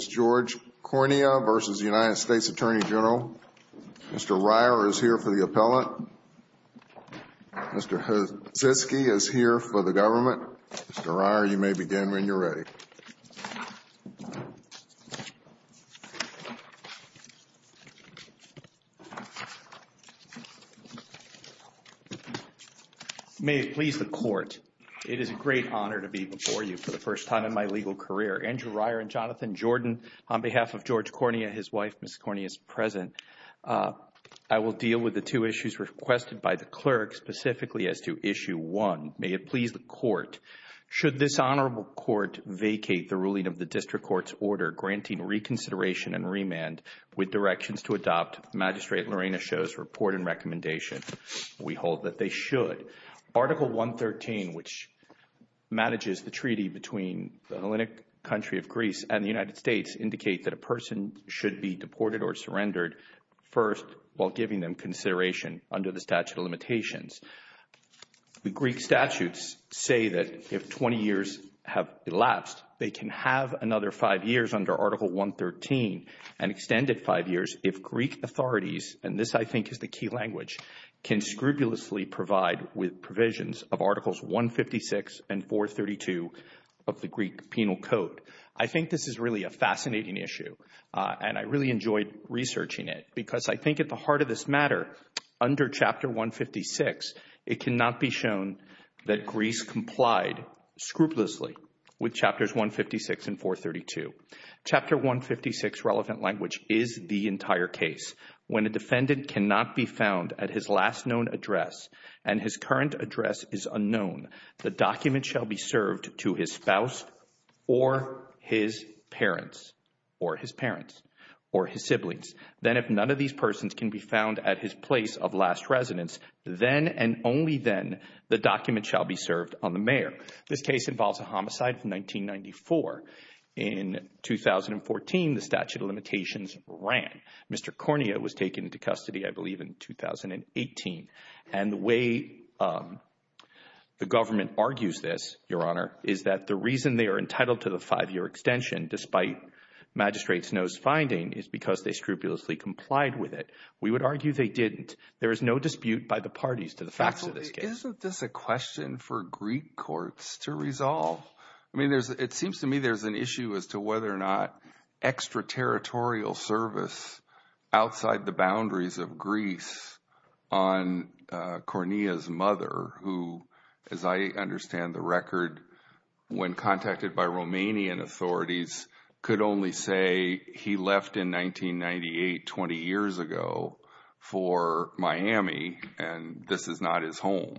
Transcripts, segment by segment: Mr. Reier is here for the appellant. Mr. Hatzisky is here for the government. Mr. Reier, you may begin when you're ready. May it please the Court, It is a great honor to be before you for the first time in my legal career. Andrew Reier and Jonathan Jordan, on behalf of George Cornea, his wife, Ms. Cornea, is present. I will deal with the two issues requested by the clerk, specifically as to Issue 1. May it please the Court, Should this Honorable Court vacate the ruling of the District Court's order granting reconsideration and remand with directions to adopt Magistrate Lorena Cho's report and recommendation? We hold that they should. Article 113, which manages the treaty between the Hellenic country of Greece and the United States, indicate that a person should be deported or surrendered first while giving them consideration under the statute of limitations. The Greek statutes say that if 20 years have elapsed, they can have another five years under Article 113, and extended five years if Greek authorities, and this I think is the key language, can scrupulously provide with provisions of Articles 156 and 432 of the Greek Penal Code. I think this is really a fascinating issue, and I really enjoyed researching it, because I think at the heart of this matter, under Chapter 156, it cannot be shown that Greece complied scrupulously with Chapters 156 and 432. Chapter 156 relevant language is the entire case. When a defendant cannot be found at his last known address and his current address is unknown, the document shall be served to his spouse or his parents or his parents or his siblings. Then if none of these persons can be found at his place of last residence, then and only then the document shall be served on the mayor. This case involves a homicide from 1994. In 2014, the statute of limitations ran. Mr. Cornea was taken into custody, I believe, in 2018. And the way the government argues this, Your Honor, is that the reason they are entitled to the five-year extension, despite Magistrate Snow's finding, is because they scrupulously complied with it. We would argue they didn't. There is no dispute by the parties to the facts of this case. Isn't this a question for Greek courts to resolve? I mean, it seems to me there's an issue as to whether or not extraterritorial service outside the boundaries of Greece on Cornea's mother, who, as I understand the record, when contacted by Romanian authorities, could only say he left in 1998, 20 years ago, for Miami and this is not his home.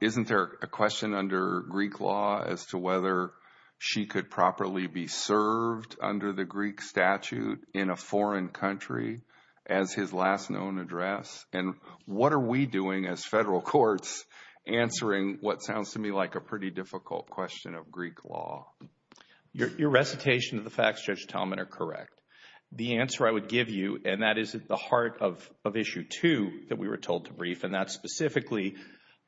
Isn't there a question under Greek law as to whether she could properly be served under the Greek statute in a foreign country as his last known address? And what are we doing as federal courts answering what sounds to me like a pretty difficult question of Greek law? Your recitation of the facts, Judge Talman, are correct. The answer I would give you, and that is at the heart of Issue 2 that we were told to brief, and that's specifically,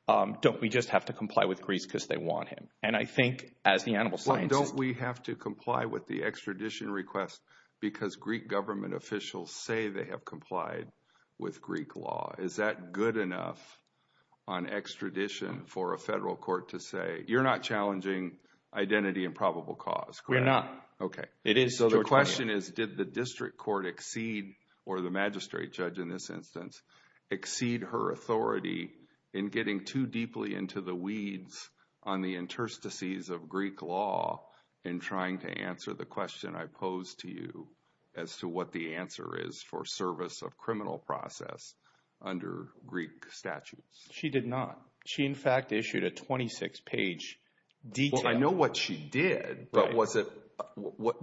don't we just have to comply with Greece because they want him? And I think, as the animal scientist— Well, don't we have to comply with the extradition request because Greek government officials say they have complied with Greek law? Is that good enough on extradition for a federal court to say, you're not challenging identity and probable cause? We're not. Okay. So the question is, did the district court exceed, or the magistrate judge in this instance, exceed her authority in getting too deeply into the weeds on the interstices of Greek law in trying to answer the question I posed to you as to what the answer is for service of criminal process under Greek statutes? She did not. She, in fact, issued a 26-page detail. Well, I know what she did, but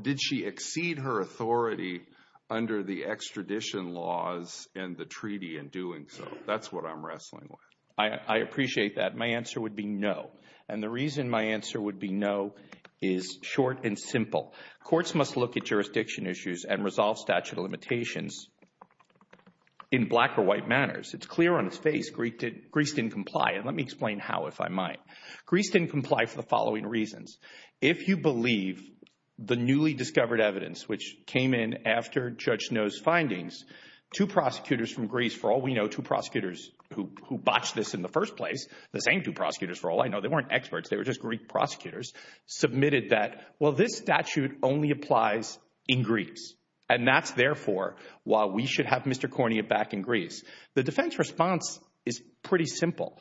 did she exceed her authority under the extradition laws and the treaty in doing so? That's what I'm wrestling with. I appreciate that. My answer would be no. And the reason my answer would be no is short and simple. Courts must look at jurisdiction issues and resolve statute of limitations in black or white manners. It's clear on its face Greece didn't comply. And let me explain how, if I might. Greece didn't comply for the following reasons. If you believe the newly discovered evidence, which came in after Judge Noe's findings, two prosecutors from Greece, for all we know, two prosecutors who botched this in the first place, the same two prosecutors, for all I know, they weren't experts. They were just Greek prosecutors, submitted that, well, this statute only applies in Greece. And that's, therefore, why we should have Mr. Kornia back in Greece. The defense response is pretty simple.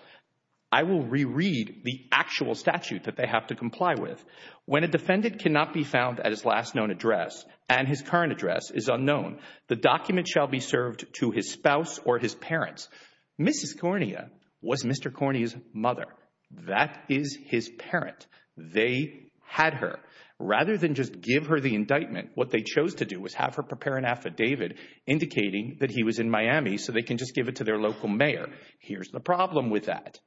I will reread the actual statute that they have to comply with. When a defendant cannot be found at his last known address and his current address is unknown, the document shall be served to his spouse or his parents. Mrs. Kornia was Mr. Kornia's mother. That is his parent. They had her. Rather than just give her the indictment, what they chose to do was have her prepare an affidavit indicating that he was in Miami so they can just give it to their local mayor. Here's the problem with that.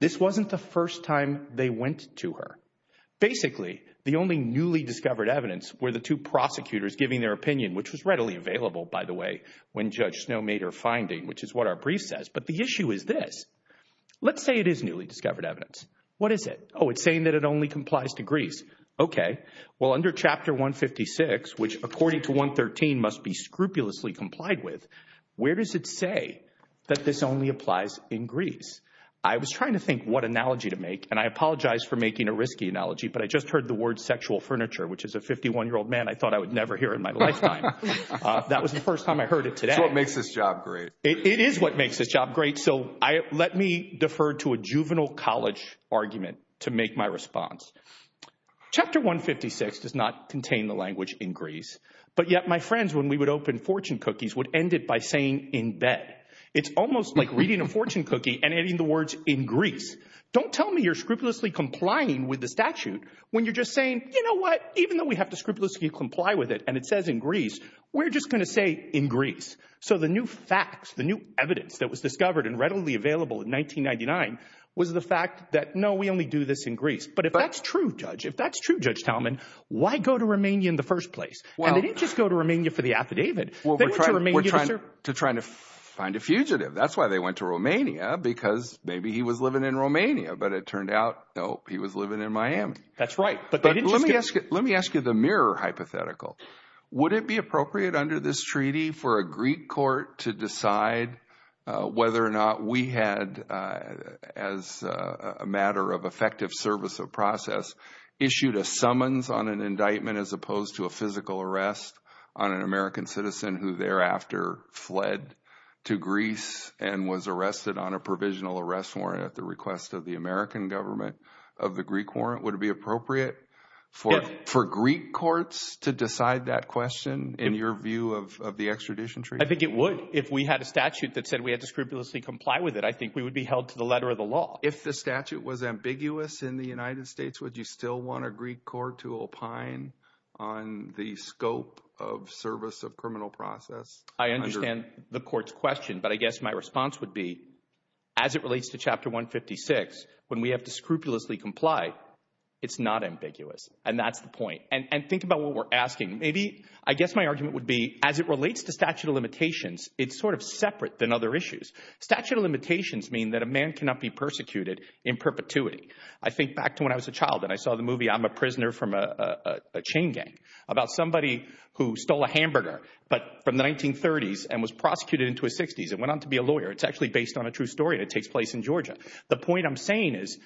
This wasn't the first time they went to her. Basically, the only newly discovered evidence were the two prosecutors giving their opinion, which was readily available, by the way, when Judge Snow made her finding, which is what our brief says. But the issue is this. Let's say it is newly discovered evidence. What is it? Oh, it's saying that it only complies to Greece. Okay. Well, under Chapter 156, which according to 113 must be scrupulously complied with, where does it say that this only applies in Greece? I was trying to think what analogy to make, and I apologize for making a risky analogy, but I just heard the word sexual furniture, which is a 51-year-old man I thought I would never hear in my lifetime. That was the first time I heard it today. It's what makes this job great. It is what makes this job great. So let me defer to a juvenile college argument to make my response. Chapter 156 does not contain the language in Greece, but yet my friends, when we would open fortune cookies, would end it by saying in bed. It's almost like reading a fortune cookie and adding the words in Greece. Don't tell me you're scrupulously complying with the statute when you're just saying, you know what, even though we have to scrupulously comply with it and it says in Greece, we're just going to say in Greece. So the new facts, the new evidence that was discovered and readily available in 1999 was the fact that, no, we only do this in Greece. But if that's true, Judge, if that's true, Judge Talman, why go to Romania in the first place? And they didn't just go to Romania for the affidavit. They went to Romania to try to find a fugitive. That's why they went to Romania, because maybe he was living in Romania, but it turned out, no, he was living in Miami. That's right. But let me ask you the mirror hypothetical. Would it be appropriate under this treaty for a Greek court to decide whether or not we had, as a matter of effective service of process, issued a summons on an indictment as opposed to a physical arrest on an American citizen who thereafter fled to Greece and was arrested on a provisional arrest warrant at the request of the American government of the Greek warrant? Would it be appropriate for Greek courts to decide that question in your view of the extradition treaty? I think it would. If we had a statute that said we had to scrupulously comply with it, I think we would be held to the letter of the law. If the statute was ambiguous in the United States, would you still want a Greek court to opine on the scope of service of criminal process? I understand the court's question, but I guess my response would be, as it relates to Chapter 156, when we have to scrupulously comply, it's not ambiguous. And that's the point. And think about what we're asking. I guess my argument would be, as it relates to statute of limitations, it's sort of separate than other issues. Statute of limitations mean that a man cannot be persecuted in perpetuity. I think back to when I was a child and I saw the movie I'm a Prisoner from a Chain Gang about somebody who stole a hamburger from the 1930s and was prosecuted into his 60s and went on to be a lawyer. It's actually based on a true story, and it takes place in Georgia. The point I'm saying is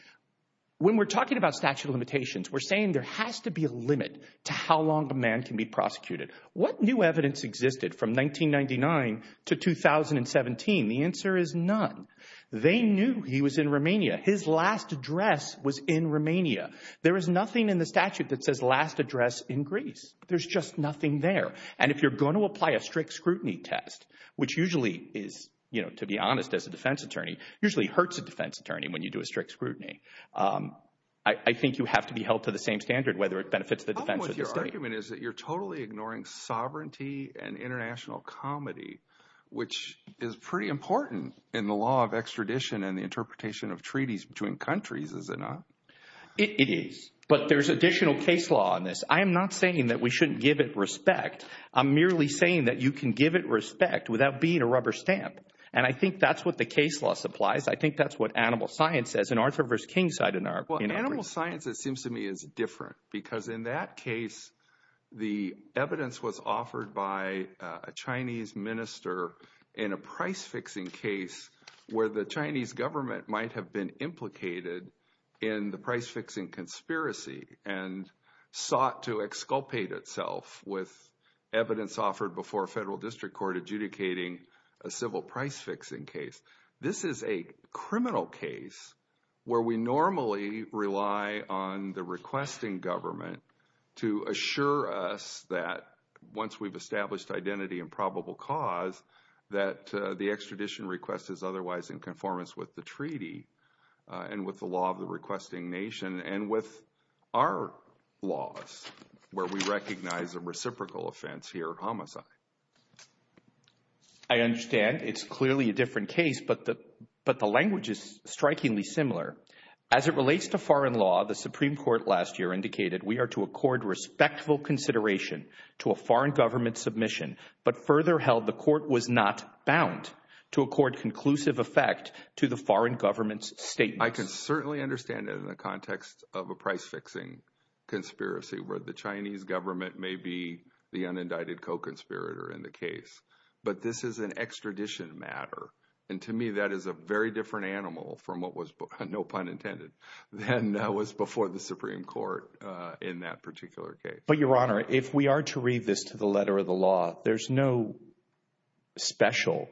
when we're talking about statute of limitations, we're saying there has to be a limit to how long a man can be prosecuted. What new evidence existed from 1999 to 2017? The answer is none. They knew he was in Romania. His last address was in Romania. There is nothing in the statute that says last address in Greece. There's just nothing there. And if you're going to apply a strict scrutiny test, which usually is, to be honest, as a defense attorney, usually hurts a defense attorney when you do a strict scrutiny, I think you have to be held to the same standard, whether it benefits the defense or the state. The problem with your argument is that you're totally ignoring sovereignty and international comity, which is pretty important in the law of extradition and the interpretation of treaties between countries, is it not? It is. But there's additional case law in this. I am not saying that we shouldn't give it respect. I'm merely saying that you can give it respect without being a rubber stamp. And I think that's what the case law supplies. I think that's what animal science says. And Arthur V. King cited an argument. Well, animal science, it seems to me, is different because in that case, the evidence was offered by a Chinese minister in a price-fixing case where the Chinese government might have been implicated in the price-fixing conspiracy and sought to exculpate itself with evidence offered before a federal district court adjudicating a civil price-fixing case. This is a criminal case where we normally rely on the requesting government to assure us that once we've established identity and probable cause that the extradition request is otherwise in conformance with the treaty and with the law of the requesting nation and with our laws where we recognize a reciprocal offense here, homicide. I understand. It's clearly a different case, but the language is strikingly similar. As it relates to foreign law, the Supreme Court last year indicated we are to accord respectful consideration to a foreign government submission, but further held the court was not bound to accord conclusive effect to the foreign government's statements. I can certainly understand it in the context of a price-fixing conspiracy where the Chinese government may be the unindicted co-conspirator in the case, but this is an extradition matter. To me, that is a very different animal from what was, no pun intended, than was before the Supreme Court in that particular case. But, Your Honor, if we are to read this to the letter of the law, there's no special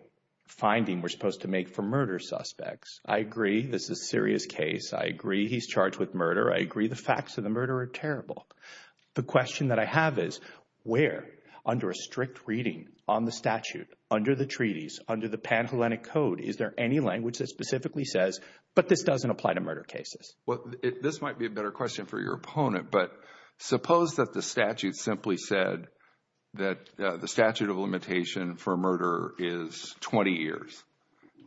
finding we're supposed to make for murder suspects. I agree this is a serious case. I agree he's charged with murder. I agree the facts of the murder are terrible. The question that I have is where, under a strict reading on the statute, under the treaties, under the Pan-Hellenic Code, is there any language that specifically says, but this doesn't apply to murder cases? Well, this might be a better question for your opponent, but suppose that the statute simply said that the statute of limitation for murder is 20 years,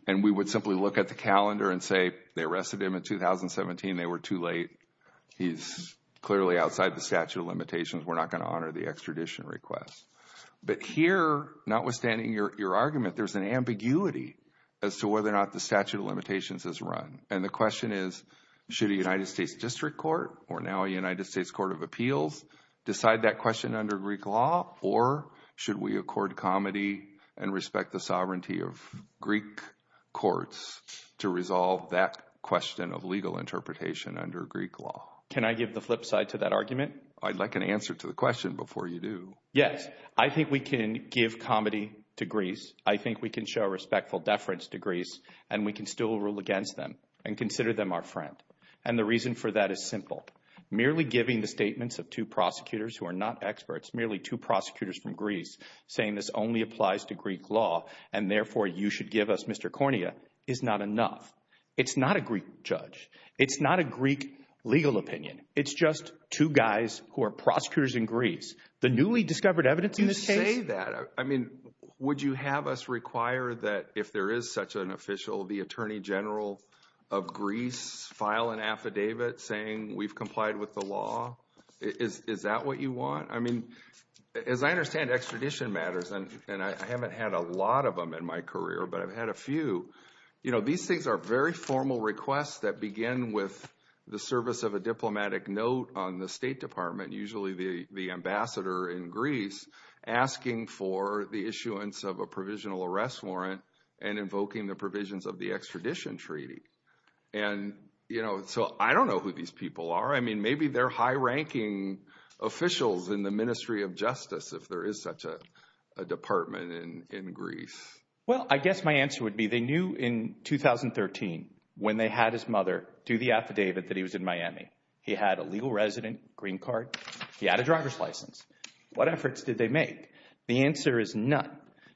and we would simply look at the calendar and say they arrested him in 2017, they were too late, he's clearly outside the statute of limitations, we're not going to honor the extradition request. But here, notwithstanding your argument, there's an ambiguity as to whether or not the statute of limitations is run. And the question is, should a United States District Court, or now a United States Court of Appeals, decide that question under Greek law, or should we accord comity and respect the sovereignty of Greek courts to resolve that question of legal interpretation under Greek law? Can I give the flip side to that argument? I'd like an answer to the question before you do. Yes, I think we can give comity to Greece, I think we can show respectful deference to Greece, and we can still rule against them and consider them our friend. And the reason for that is simple. Merely giving the statements of two prosecutors who are not experts, merely two prosecutors from Greece, saying this only applies to Greek law, and therefore you should give us Mr. Cornea, is not enough. It's not a Greek judge. It's not a Greek legal opinion. It's just two guys who are prosecutors in Greece. The newly discovered evidence in this case? You say that. I mean, would you have us require that if there is such an official, the Attorney General of Greece, file an affidavit saying we've complied with the law? Is that what you want? I mean, as I understand extradition matters, and I haven't had a lot of them in my career, but I've had a few, you know, these things are very formal requests that begin with the service of a diplomatic note on the State Department, usually the ambassador in Greece, asking for the issuance of a provisional arrest warrant and invoking the provisions of the extradition treaty. And, you know, so I don't know who these people are. I mean, maybe they're high-ranking officials in the Ministry of Justice if there is such a department in Greece. Well, I guess my answer would be they knew in 2013 when they had his mother do the affidavit that he was in Miami. He had a legal resident green card. He had a driver's license. What efforts did they make? The answer is none.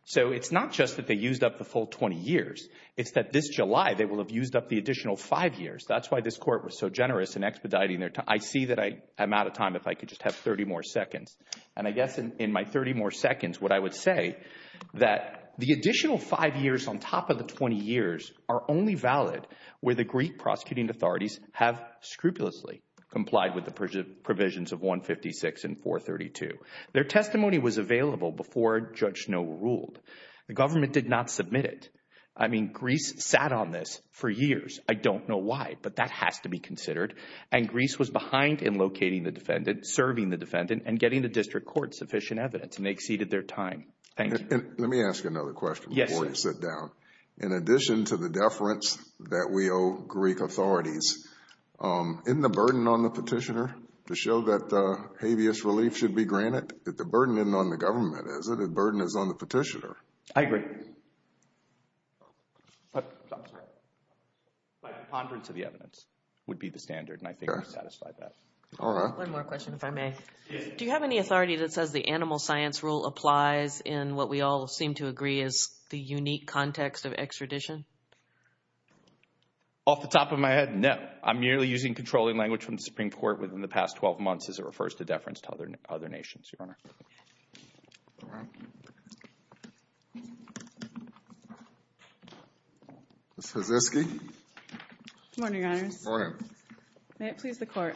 So it's not just that they used up the full 20 years. It's that this July they will have used up the additional five years. That's why this Court was so generous in expediting their time. I see that I'm out of time if I could just have 30 more seconds. And I guess in my 30 more seconds what I would say, that the additional five years on top of the 20 years are only valid where the Greek prosecuting authorities have scrupulously complied with the provisions of 156 and 432. Their testimony was available before Judge Snow ruled. The government did not submit it. I mean, Greece sat on this for years. I don't know why, but that has to be considered. And Greece was behind in locating the defendant, serving the defendant, and getting the district court sufficient evidence, and they exceeded their time. Thank you. Let me ask you another question before you sit down. In addition to the deference that we owe Greek authorities, isn't the burden on the petitioner to show that habeas relief should be granted? The burden isn't on the government, is it? The burden is on the petitioner. I agree. But ponderance of the evidence would be the standard, and I think you satisfied that. One more question, if I may. Do you have any authority that says the animal science rule applies in what we all seem to agree is the unique context of extradition? Off the top of my head, no. I'm merely using controlling language from the Supreme Court within the past 12 months as it refers to deference to other nations, Your Honor. Ms. Hatzisky. Good morning, Your Honors. Good morning. May it please the Court.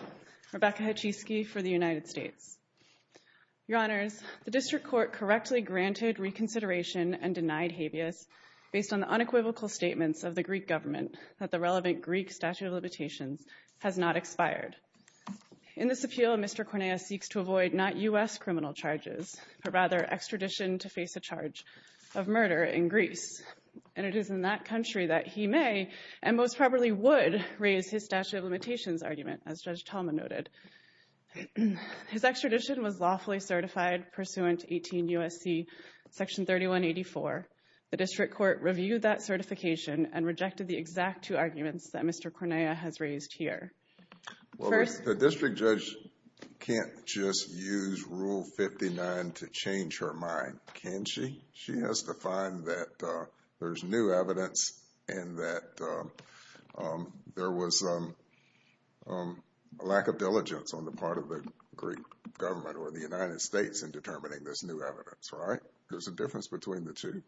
Rebecca Hatzisky for the United States. Your Honors, the district court correctly granted reconsideration and denied habeas based on the unequivocal statements of the Greek government that the relevant Greek statute of limitations has not expired. In this appeal, Mr. Corneas seeks to avoid not U.S. criminal charges, but rather extradition to face a charge of murder in Greece. And it is in that country that he may and most probably would raise his statute of limitations argument, as Judge Talman noted. His extradition was lawfully certified pursuant to 18 U.S.C. Section 3184. The district court reviewed that certification and rejected the exact two arguments that Mr. Corneas has raised here. First... The district judge can't just use Rule 59 to change her mind, can she? She has to find that there's new evidence and that there was a lack of diligence on the part of the Greek government or the United States in determining this new evidence, right? There's a difference between the two.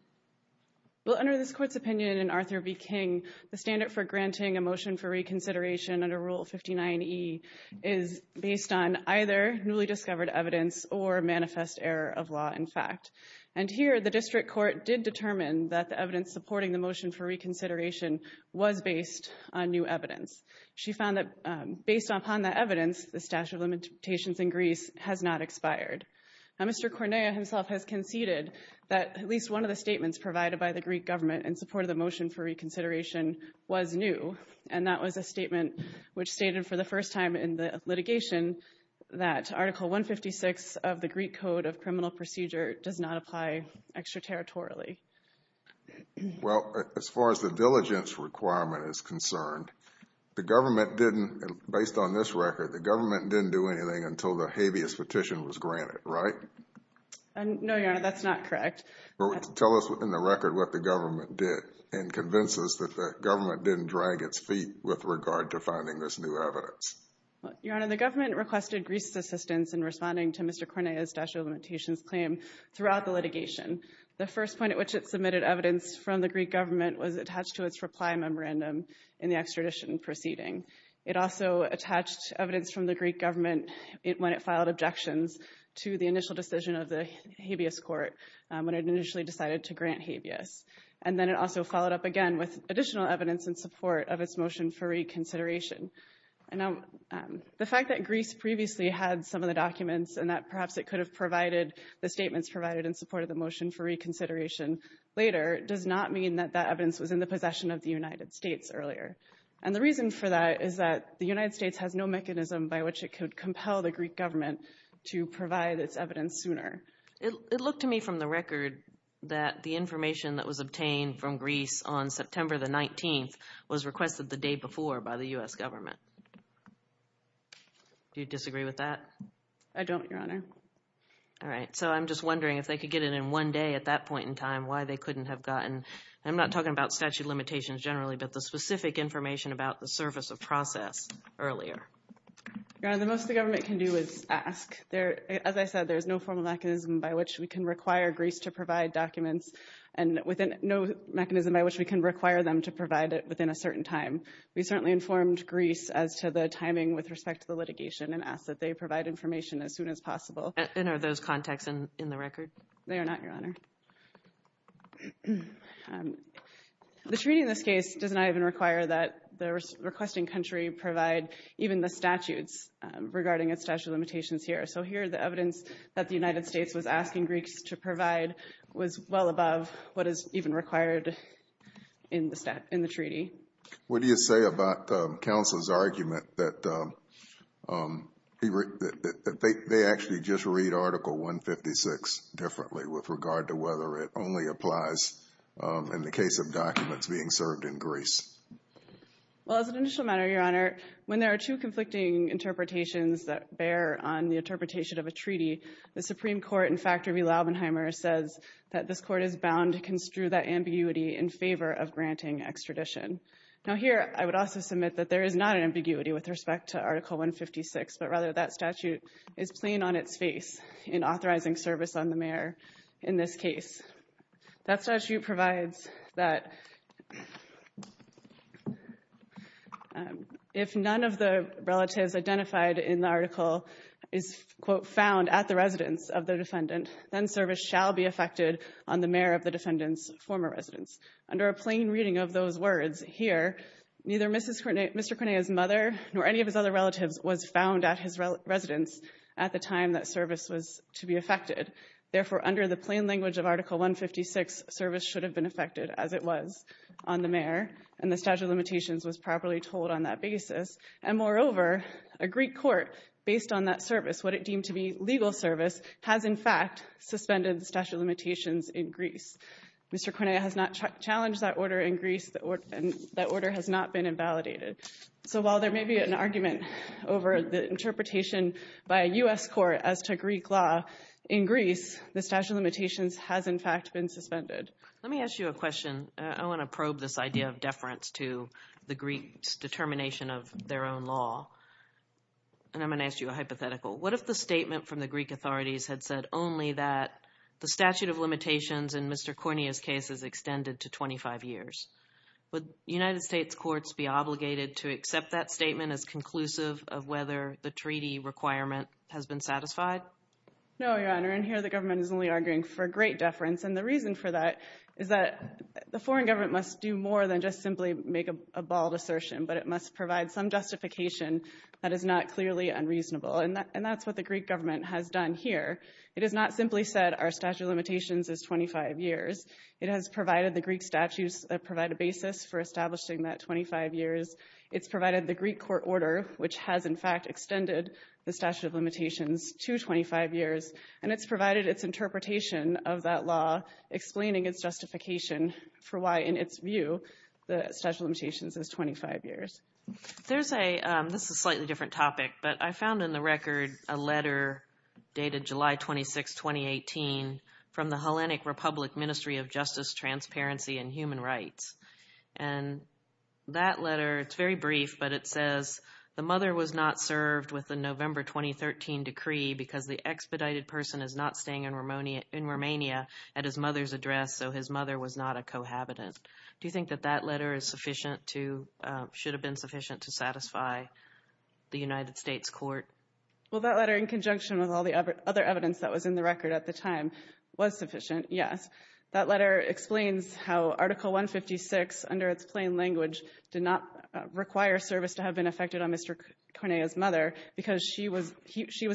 Well, under this Court's opinion in Arthur v. King, the standard for granting a motion for reconsideration under Rule 59E is based on either newly discovered evidence or manifest error of law in fact. And here, the district court did determine that the evidence supporting the motion for reconsideration was based on new evidence. She found that based upon that evidence, the statute of limitations in Greece has not expired. Now, Mr. Corneas himself has conceded that at least one of the statements provided by the Greek government in support of the motion for reconsideration was new, and that was a statement which stated for the first time in the litigation that Article 156 of the Greek Code of Criminal Procedure does not apply extraterritorially. Well, as far as the diligence requirement is concerned, the government didn't, based on this record, the government didn't do anything until the habeas petition was granted, right? No, Your Honor, that's not correct. Tell us in the record what the government did and convince us that the government didn't drag its feet with regard to finding this new evidence. Your Honor, the government requested Greece's assistance in responding to Mr. Corneas' statute of limitations claim throughout the litigation. The first point at which it submitted evidence from the Greek government was attached to its reply memorandum in the extradition proceeding. It also attached evidence from the Greek government when it filed objections to the initial decision of the habeas court when it initially decided to grant habeas. And then it also followed up again with additional evidence in support of its motion for reconsideration. Now, the fact that Greece previously had some of the documents and that perhaps it could have provided the statements provided in support of the motion for reconsideration later does not mean that that evidence was in the possession of the United States earlier. And the reason for that is that the United States has no mechanism by which it could compel the Greek government to provide its evidence sooner. It looked to me from the record that the information that was obtained from Greece on September the 19th was requested the day before by the U.S. government. Do you disagree with that? I don't, Your Honor. All right. So I'm just wondering if they could get it in one day at that point in time, why they couldn't have gotten, I'm not talking about statute of limitations generally, but the specific information about the surface of process earlier. Your Honor, the most the government can do is ask. As I said, there's no formal mechanism by which we can require Greece to provide documents and no mechanism by which we can require them to provide it within a certain time. We certainly informed Greece as to the timing with respect to the litigation and asked that they provide information as soon as possible. And are those contacts in the record? They are not, Your Honor. The treaty in this case does not even require that the requesting country provide even the statutes regarding its statute of limitations here. So here the evidence that the United States was asking Greeks to provide was well above what is even required in the treaty. What do you say about counsel's argument that they actually just read Article 156 differently with regard to whether it only applies in the case of documents being served in Greece? Your Honor, when there are two conflicting interpretations that bear on the interpretation of a treaty, the Supreme Court in Factor v. Laubenheimer says that this court is bound to construe that ambiguity in favor of granting extradition. Now here I would also submit that there is not an ambiguity with respect to Article 156, but rather that statute is plain on its face in authorizing service on the mayor in this case. That statute provides that if none of the relatives identified in the article is, quote, found at the residence of the defendant, then service shall be effected on the mayor of the defendant's former residence. Under a plain reading of those words here, neither Mr. Corneille's mother nor any of his other relatives was found at his residence at the time that service was to be effected. Therefore, under the plain language of Article 156, service should have been effected as it was on the mayor, and the statute of limitations was properly told on that basis. And moreover, a Greek court, based on that service, what it deemed to be legal service, has in fact suspended the statute of limitations in Greece. Mr. Corneille has not challenged that order in Greece. That order has not been invalidated. So while there may be an argument over the interpretation by a U.S. court as to Greek law in Greece, the statute of limitations has in fact been suspended. Let me ask you a question. I want to probe this idea of deference to the Greeks' determination of their own law. And I'm going to ask you a hypothetical. What if the statement from the Greek authorities had said only that the statute of limitations in Mr. Corneille's case is extended to 25 years? Would United States courts be obligated to accept that statement as conclusive of whether the treaty requirement has been satisfied? No, Your Honor, and here the government is only arguing for great deference. And the reason for that is that the foreign government must do more than just simply make a bald assertion, but it must provide some justification that is not clearly unreasonable. And that's what the Greek government has done here. It has not simply said our statute of limitations is 25 years. It has provided the Greek statutes that provide a basis for establishing that 25 years. It's provided the Greek court order, which has in fact extended the statute of limitations to 25 years. And it's provided its interpretation of that law, explaining its justification for why, in its view, the statute of limitations is 25 years. This is a slightly different topic, but I found in the record a letter dated July 26, 2018, from the Hellenic Republic Ministry of Justice, Transparency, and Human Rights. And that letter, it's very brief, but it says the mother was not served with the November 2013 decree because the expedited person is not staying in Romania at his mother's address, so his mother was not a cohabitant. Do you think that that letter is sufficient to – should have been sufficient to satisfy the United States court? Well, that letter, in conjunction with all the other evidence that was in the record at the time, was sufficient, yes. That letter explains how Article 156, under its plain language, did not require service to have been effected on Mr. Cornea's mother because she was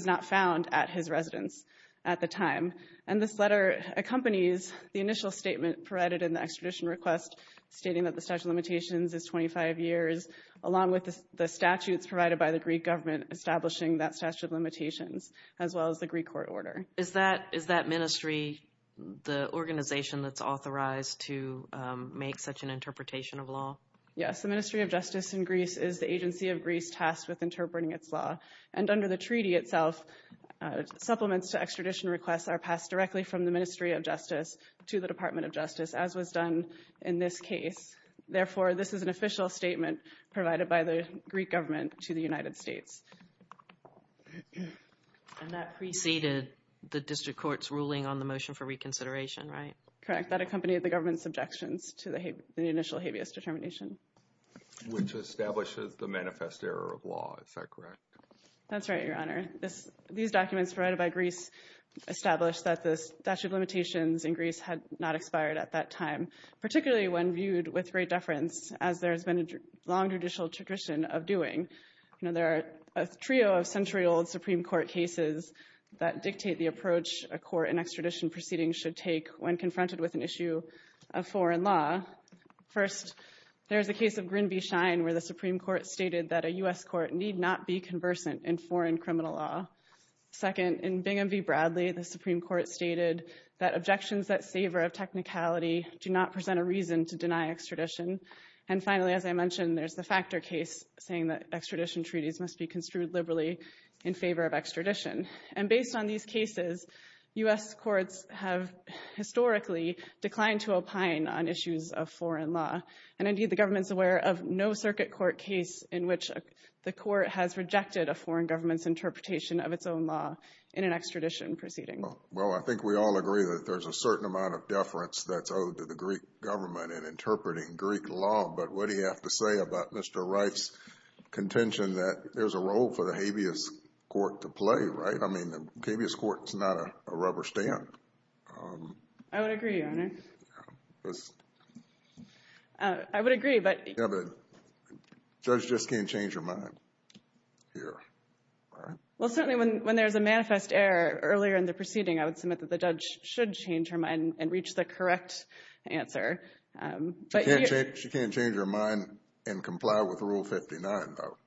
not found at his residence at the time. And this letter accompanies the initial statement provided in the extradition request, stating that the statute of limitations is 25 years, along with the statutes provided by the Greek government establishing that statute of limitations, as well as the Greek court order. Is that ministry the organization that's authorized to make such an interpretation of law? Yes, the Ministry of Justice in Greece is the agency of Greece tasked with interpreting its law. And under the treaty itself, supplements to extradition requests are passed directly from the Ministry of Justice to the Department of Justice, as was done in this case. Therefore, this is an official statement provided by the Greek government to the United States. And that preceded the district court's ruling on the motion for reconsideration, right? Correct. That accompanied the government's objections to the initial habeas determination. Which establishes the manifest error of law. Is that correct? That's right, Your Honor. These documents provided by Greece established that the statute of limitations in Greece had not expired at that time, particularly when viewed with great deference, as there has been a long judicial tradition of doing. There are a trio of century-old Supreme Court cases that dictate the approach a court in extradition proceedings should take when confronted with an issue of foreign law. First, there is the case of Grin v. Shine, where the Supreme Court stated that a U.S. court need not be conversant in foreign criminal law. Second, in Bingham v. Bradley, the Supreme Court stated that objections that savor of technicality do not present a reason to deny extradition. And finally, as I mentioned, there's the Factor case, saying that extradition treaties must be construed liberally in favor of extradition. And based on these cases, U.S. courts have historically declined to opine on issues of foreign law. And indeed, the government's aware of no circuit court case in which the court has rejected a foreign government's interpretation of its own law in an extradition proceeding. Well, I think we all agree that there's a certain amount of deference that's owed to the Greek government in interpreting Greek law. But what do you have to say about Mr. Wright's contention that there's a role for the habeas court to play, right? I mean, the habeas court is not a rubber stamp. I would agree, Your Honor. I would agree, but – The judge just can't change her mind here. Well, certainly when there's a manifest error earlier in the proceeding, I would submit that the judge should change her mind and reach the correct answer. She can't change her mind and comply with Rule 59, though.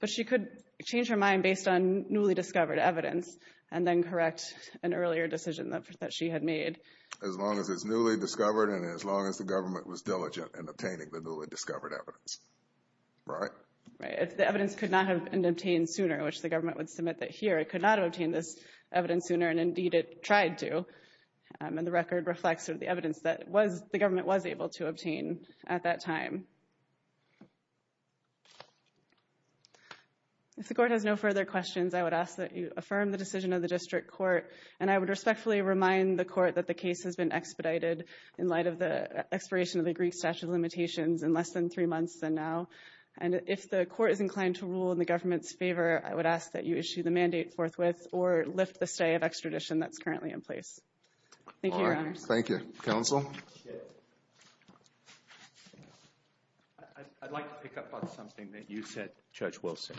But she could change her mind based on newly discovered evidence and then correct an earlier decision that she had made. As long as it's newly discovered and as long as the government was diligent in obtaining the newly discovered evidence, right? Right. If the evidence could not have been obtained sooner, which the government would submit that here, it could not have obtained this evidence sooner, and indeed it tried to. And the record reflects the evidence that the government was able to obtain at that time. If the court has no further questions, I would ask that you affirm the decision of the district court. And I would respectfully remind the court that the case has been expedited in light of the expiration of the Greek statute of limitations in less than three months than now. And if the court is inclined to rule in the government's favor, I would ask that you issue the mandate forthwith or lift the stay of extradition that's currently in place. Thank you, Your Honors. Thank you. Counsel? I'd like to pick up on something that you said, Judge Wilson.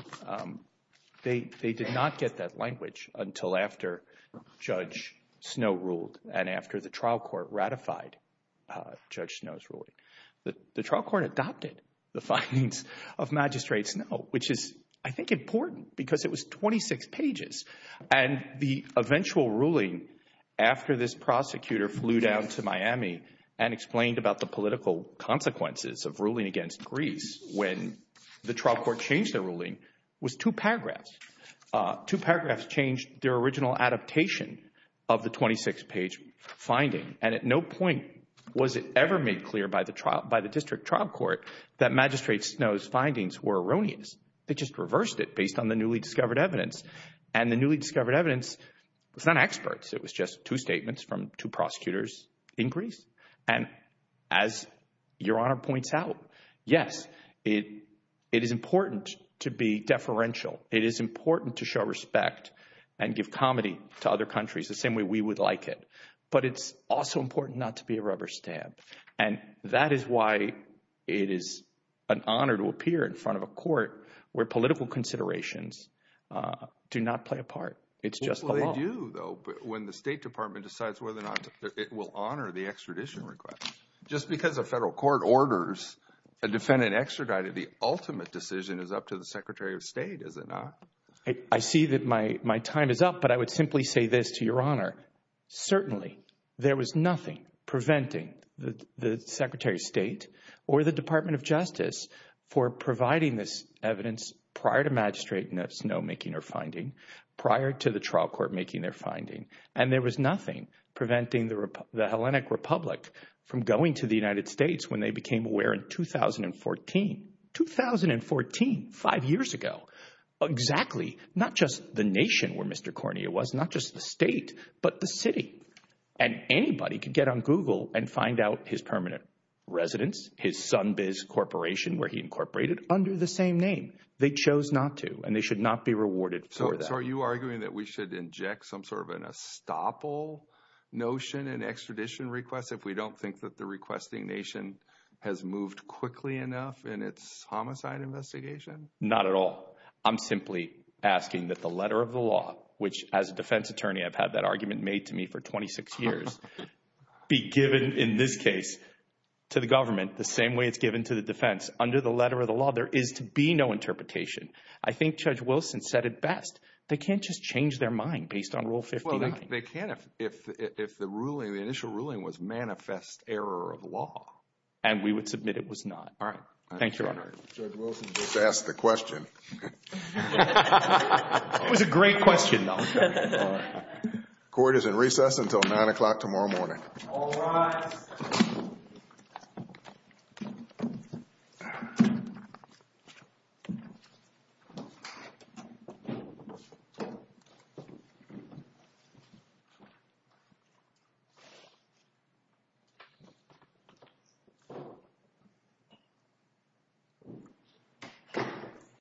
They did not get that language until after Judge Snow ruled and after the trial court ratified Judge Snow's ruling. The trial court adopted the findings of Magistrate Snow, which is, I think, important because it was 26 pages. And the eventual ruling after this prosecutor flew down to Miami and explained about the political consequences of ruling against Greece when the trial court changed their ruling was two paragraphs. Two paragraphs changed their original adaptation of the 26-page finding. And at no point was it ever made clear by the district trial court that Magistrate Snow's findings were erroneous. They just reversed it based on the newly discovered evidence. And the newly discovered evidence was not experts. It was just two statements from two prosecutors in Greece. And as Your Honor points out, yes, it is important to be deferential. It is important to show respect and give comedy to other countries the same way we would like it. But it's also important not to be a rubber stamp. And that is why it is an honor to appear in front of a court where political considerations do not play a part. It's just the law. Well, they do, though, when the State Department decides whether or not it will honor the extradition request. Just because a federal court orders a defendant extradited, the ultimate decision is up to the Secretary of State, is it not? I see that my time is up, but I would simply say this to Your Honor. Certainly, there was nothing preventing the Secretary of State or the Department of Justice for providing this evidence prior to Magistrate Snow making her finding, prior to the trial court making their finding. And there was nothing preventing the Hellenic Republic from going to the United States when they became aware in 2014. 2014, five years ago. Exactly. Not just the nation where Mr. Cornea was, not just the state, but the city. And anybody could get on Google and find out his permanent residence, his Sunbiz Corporation, where he incorporated, under the same name. They chose not to, and they should not be rewarded for that. So are you arguing that we should inject some sort of an estoppel notion in extradition requests if we don't think that the requesting nation has moved quickly enough in its homicide investigation? Not at all. I'm simply asking that the letter of the law, which as a defense attorney, I've had that argument made to me for 26 years, be given in this case to the government the same way it's given to the defense. Under the letter of the law, there is to be no interpretation. I think Judge Wilson said it best. They can't just change their mind based on Rule 59. They can if the initial ruling was manifest error of law. And we would submit it was not. All right. Thank you, Your Honor. Judge Wilson just asked the question. It was a great question, though. Court is in recess until 9 o'clock tomorrow morning. All rise. Thank you.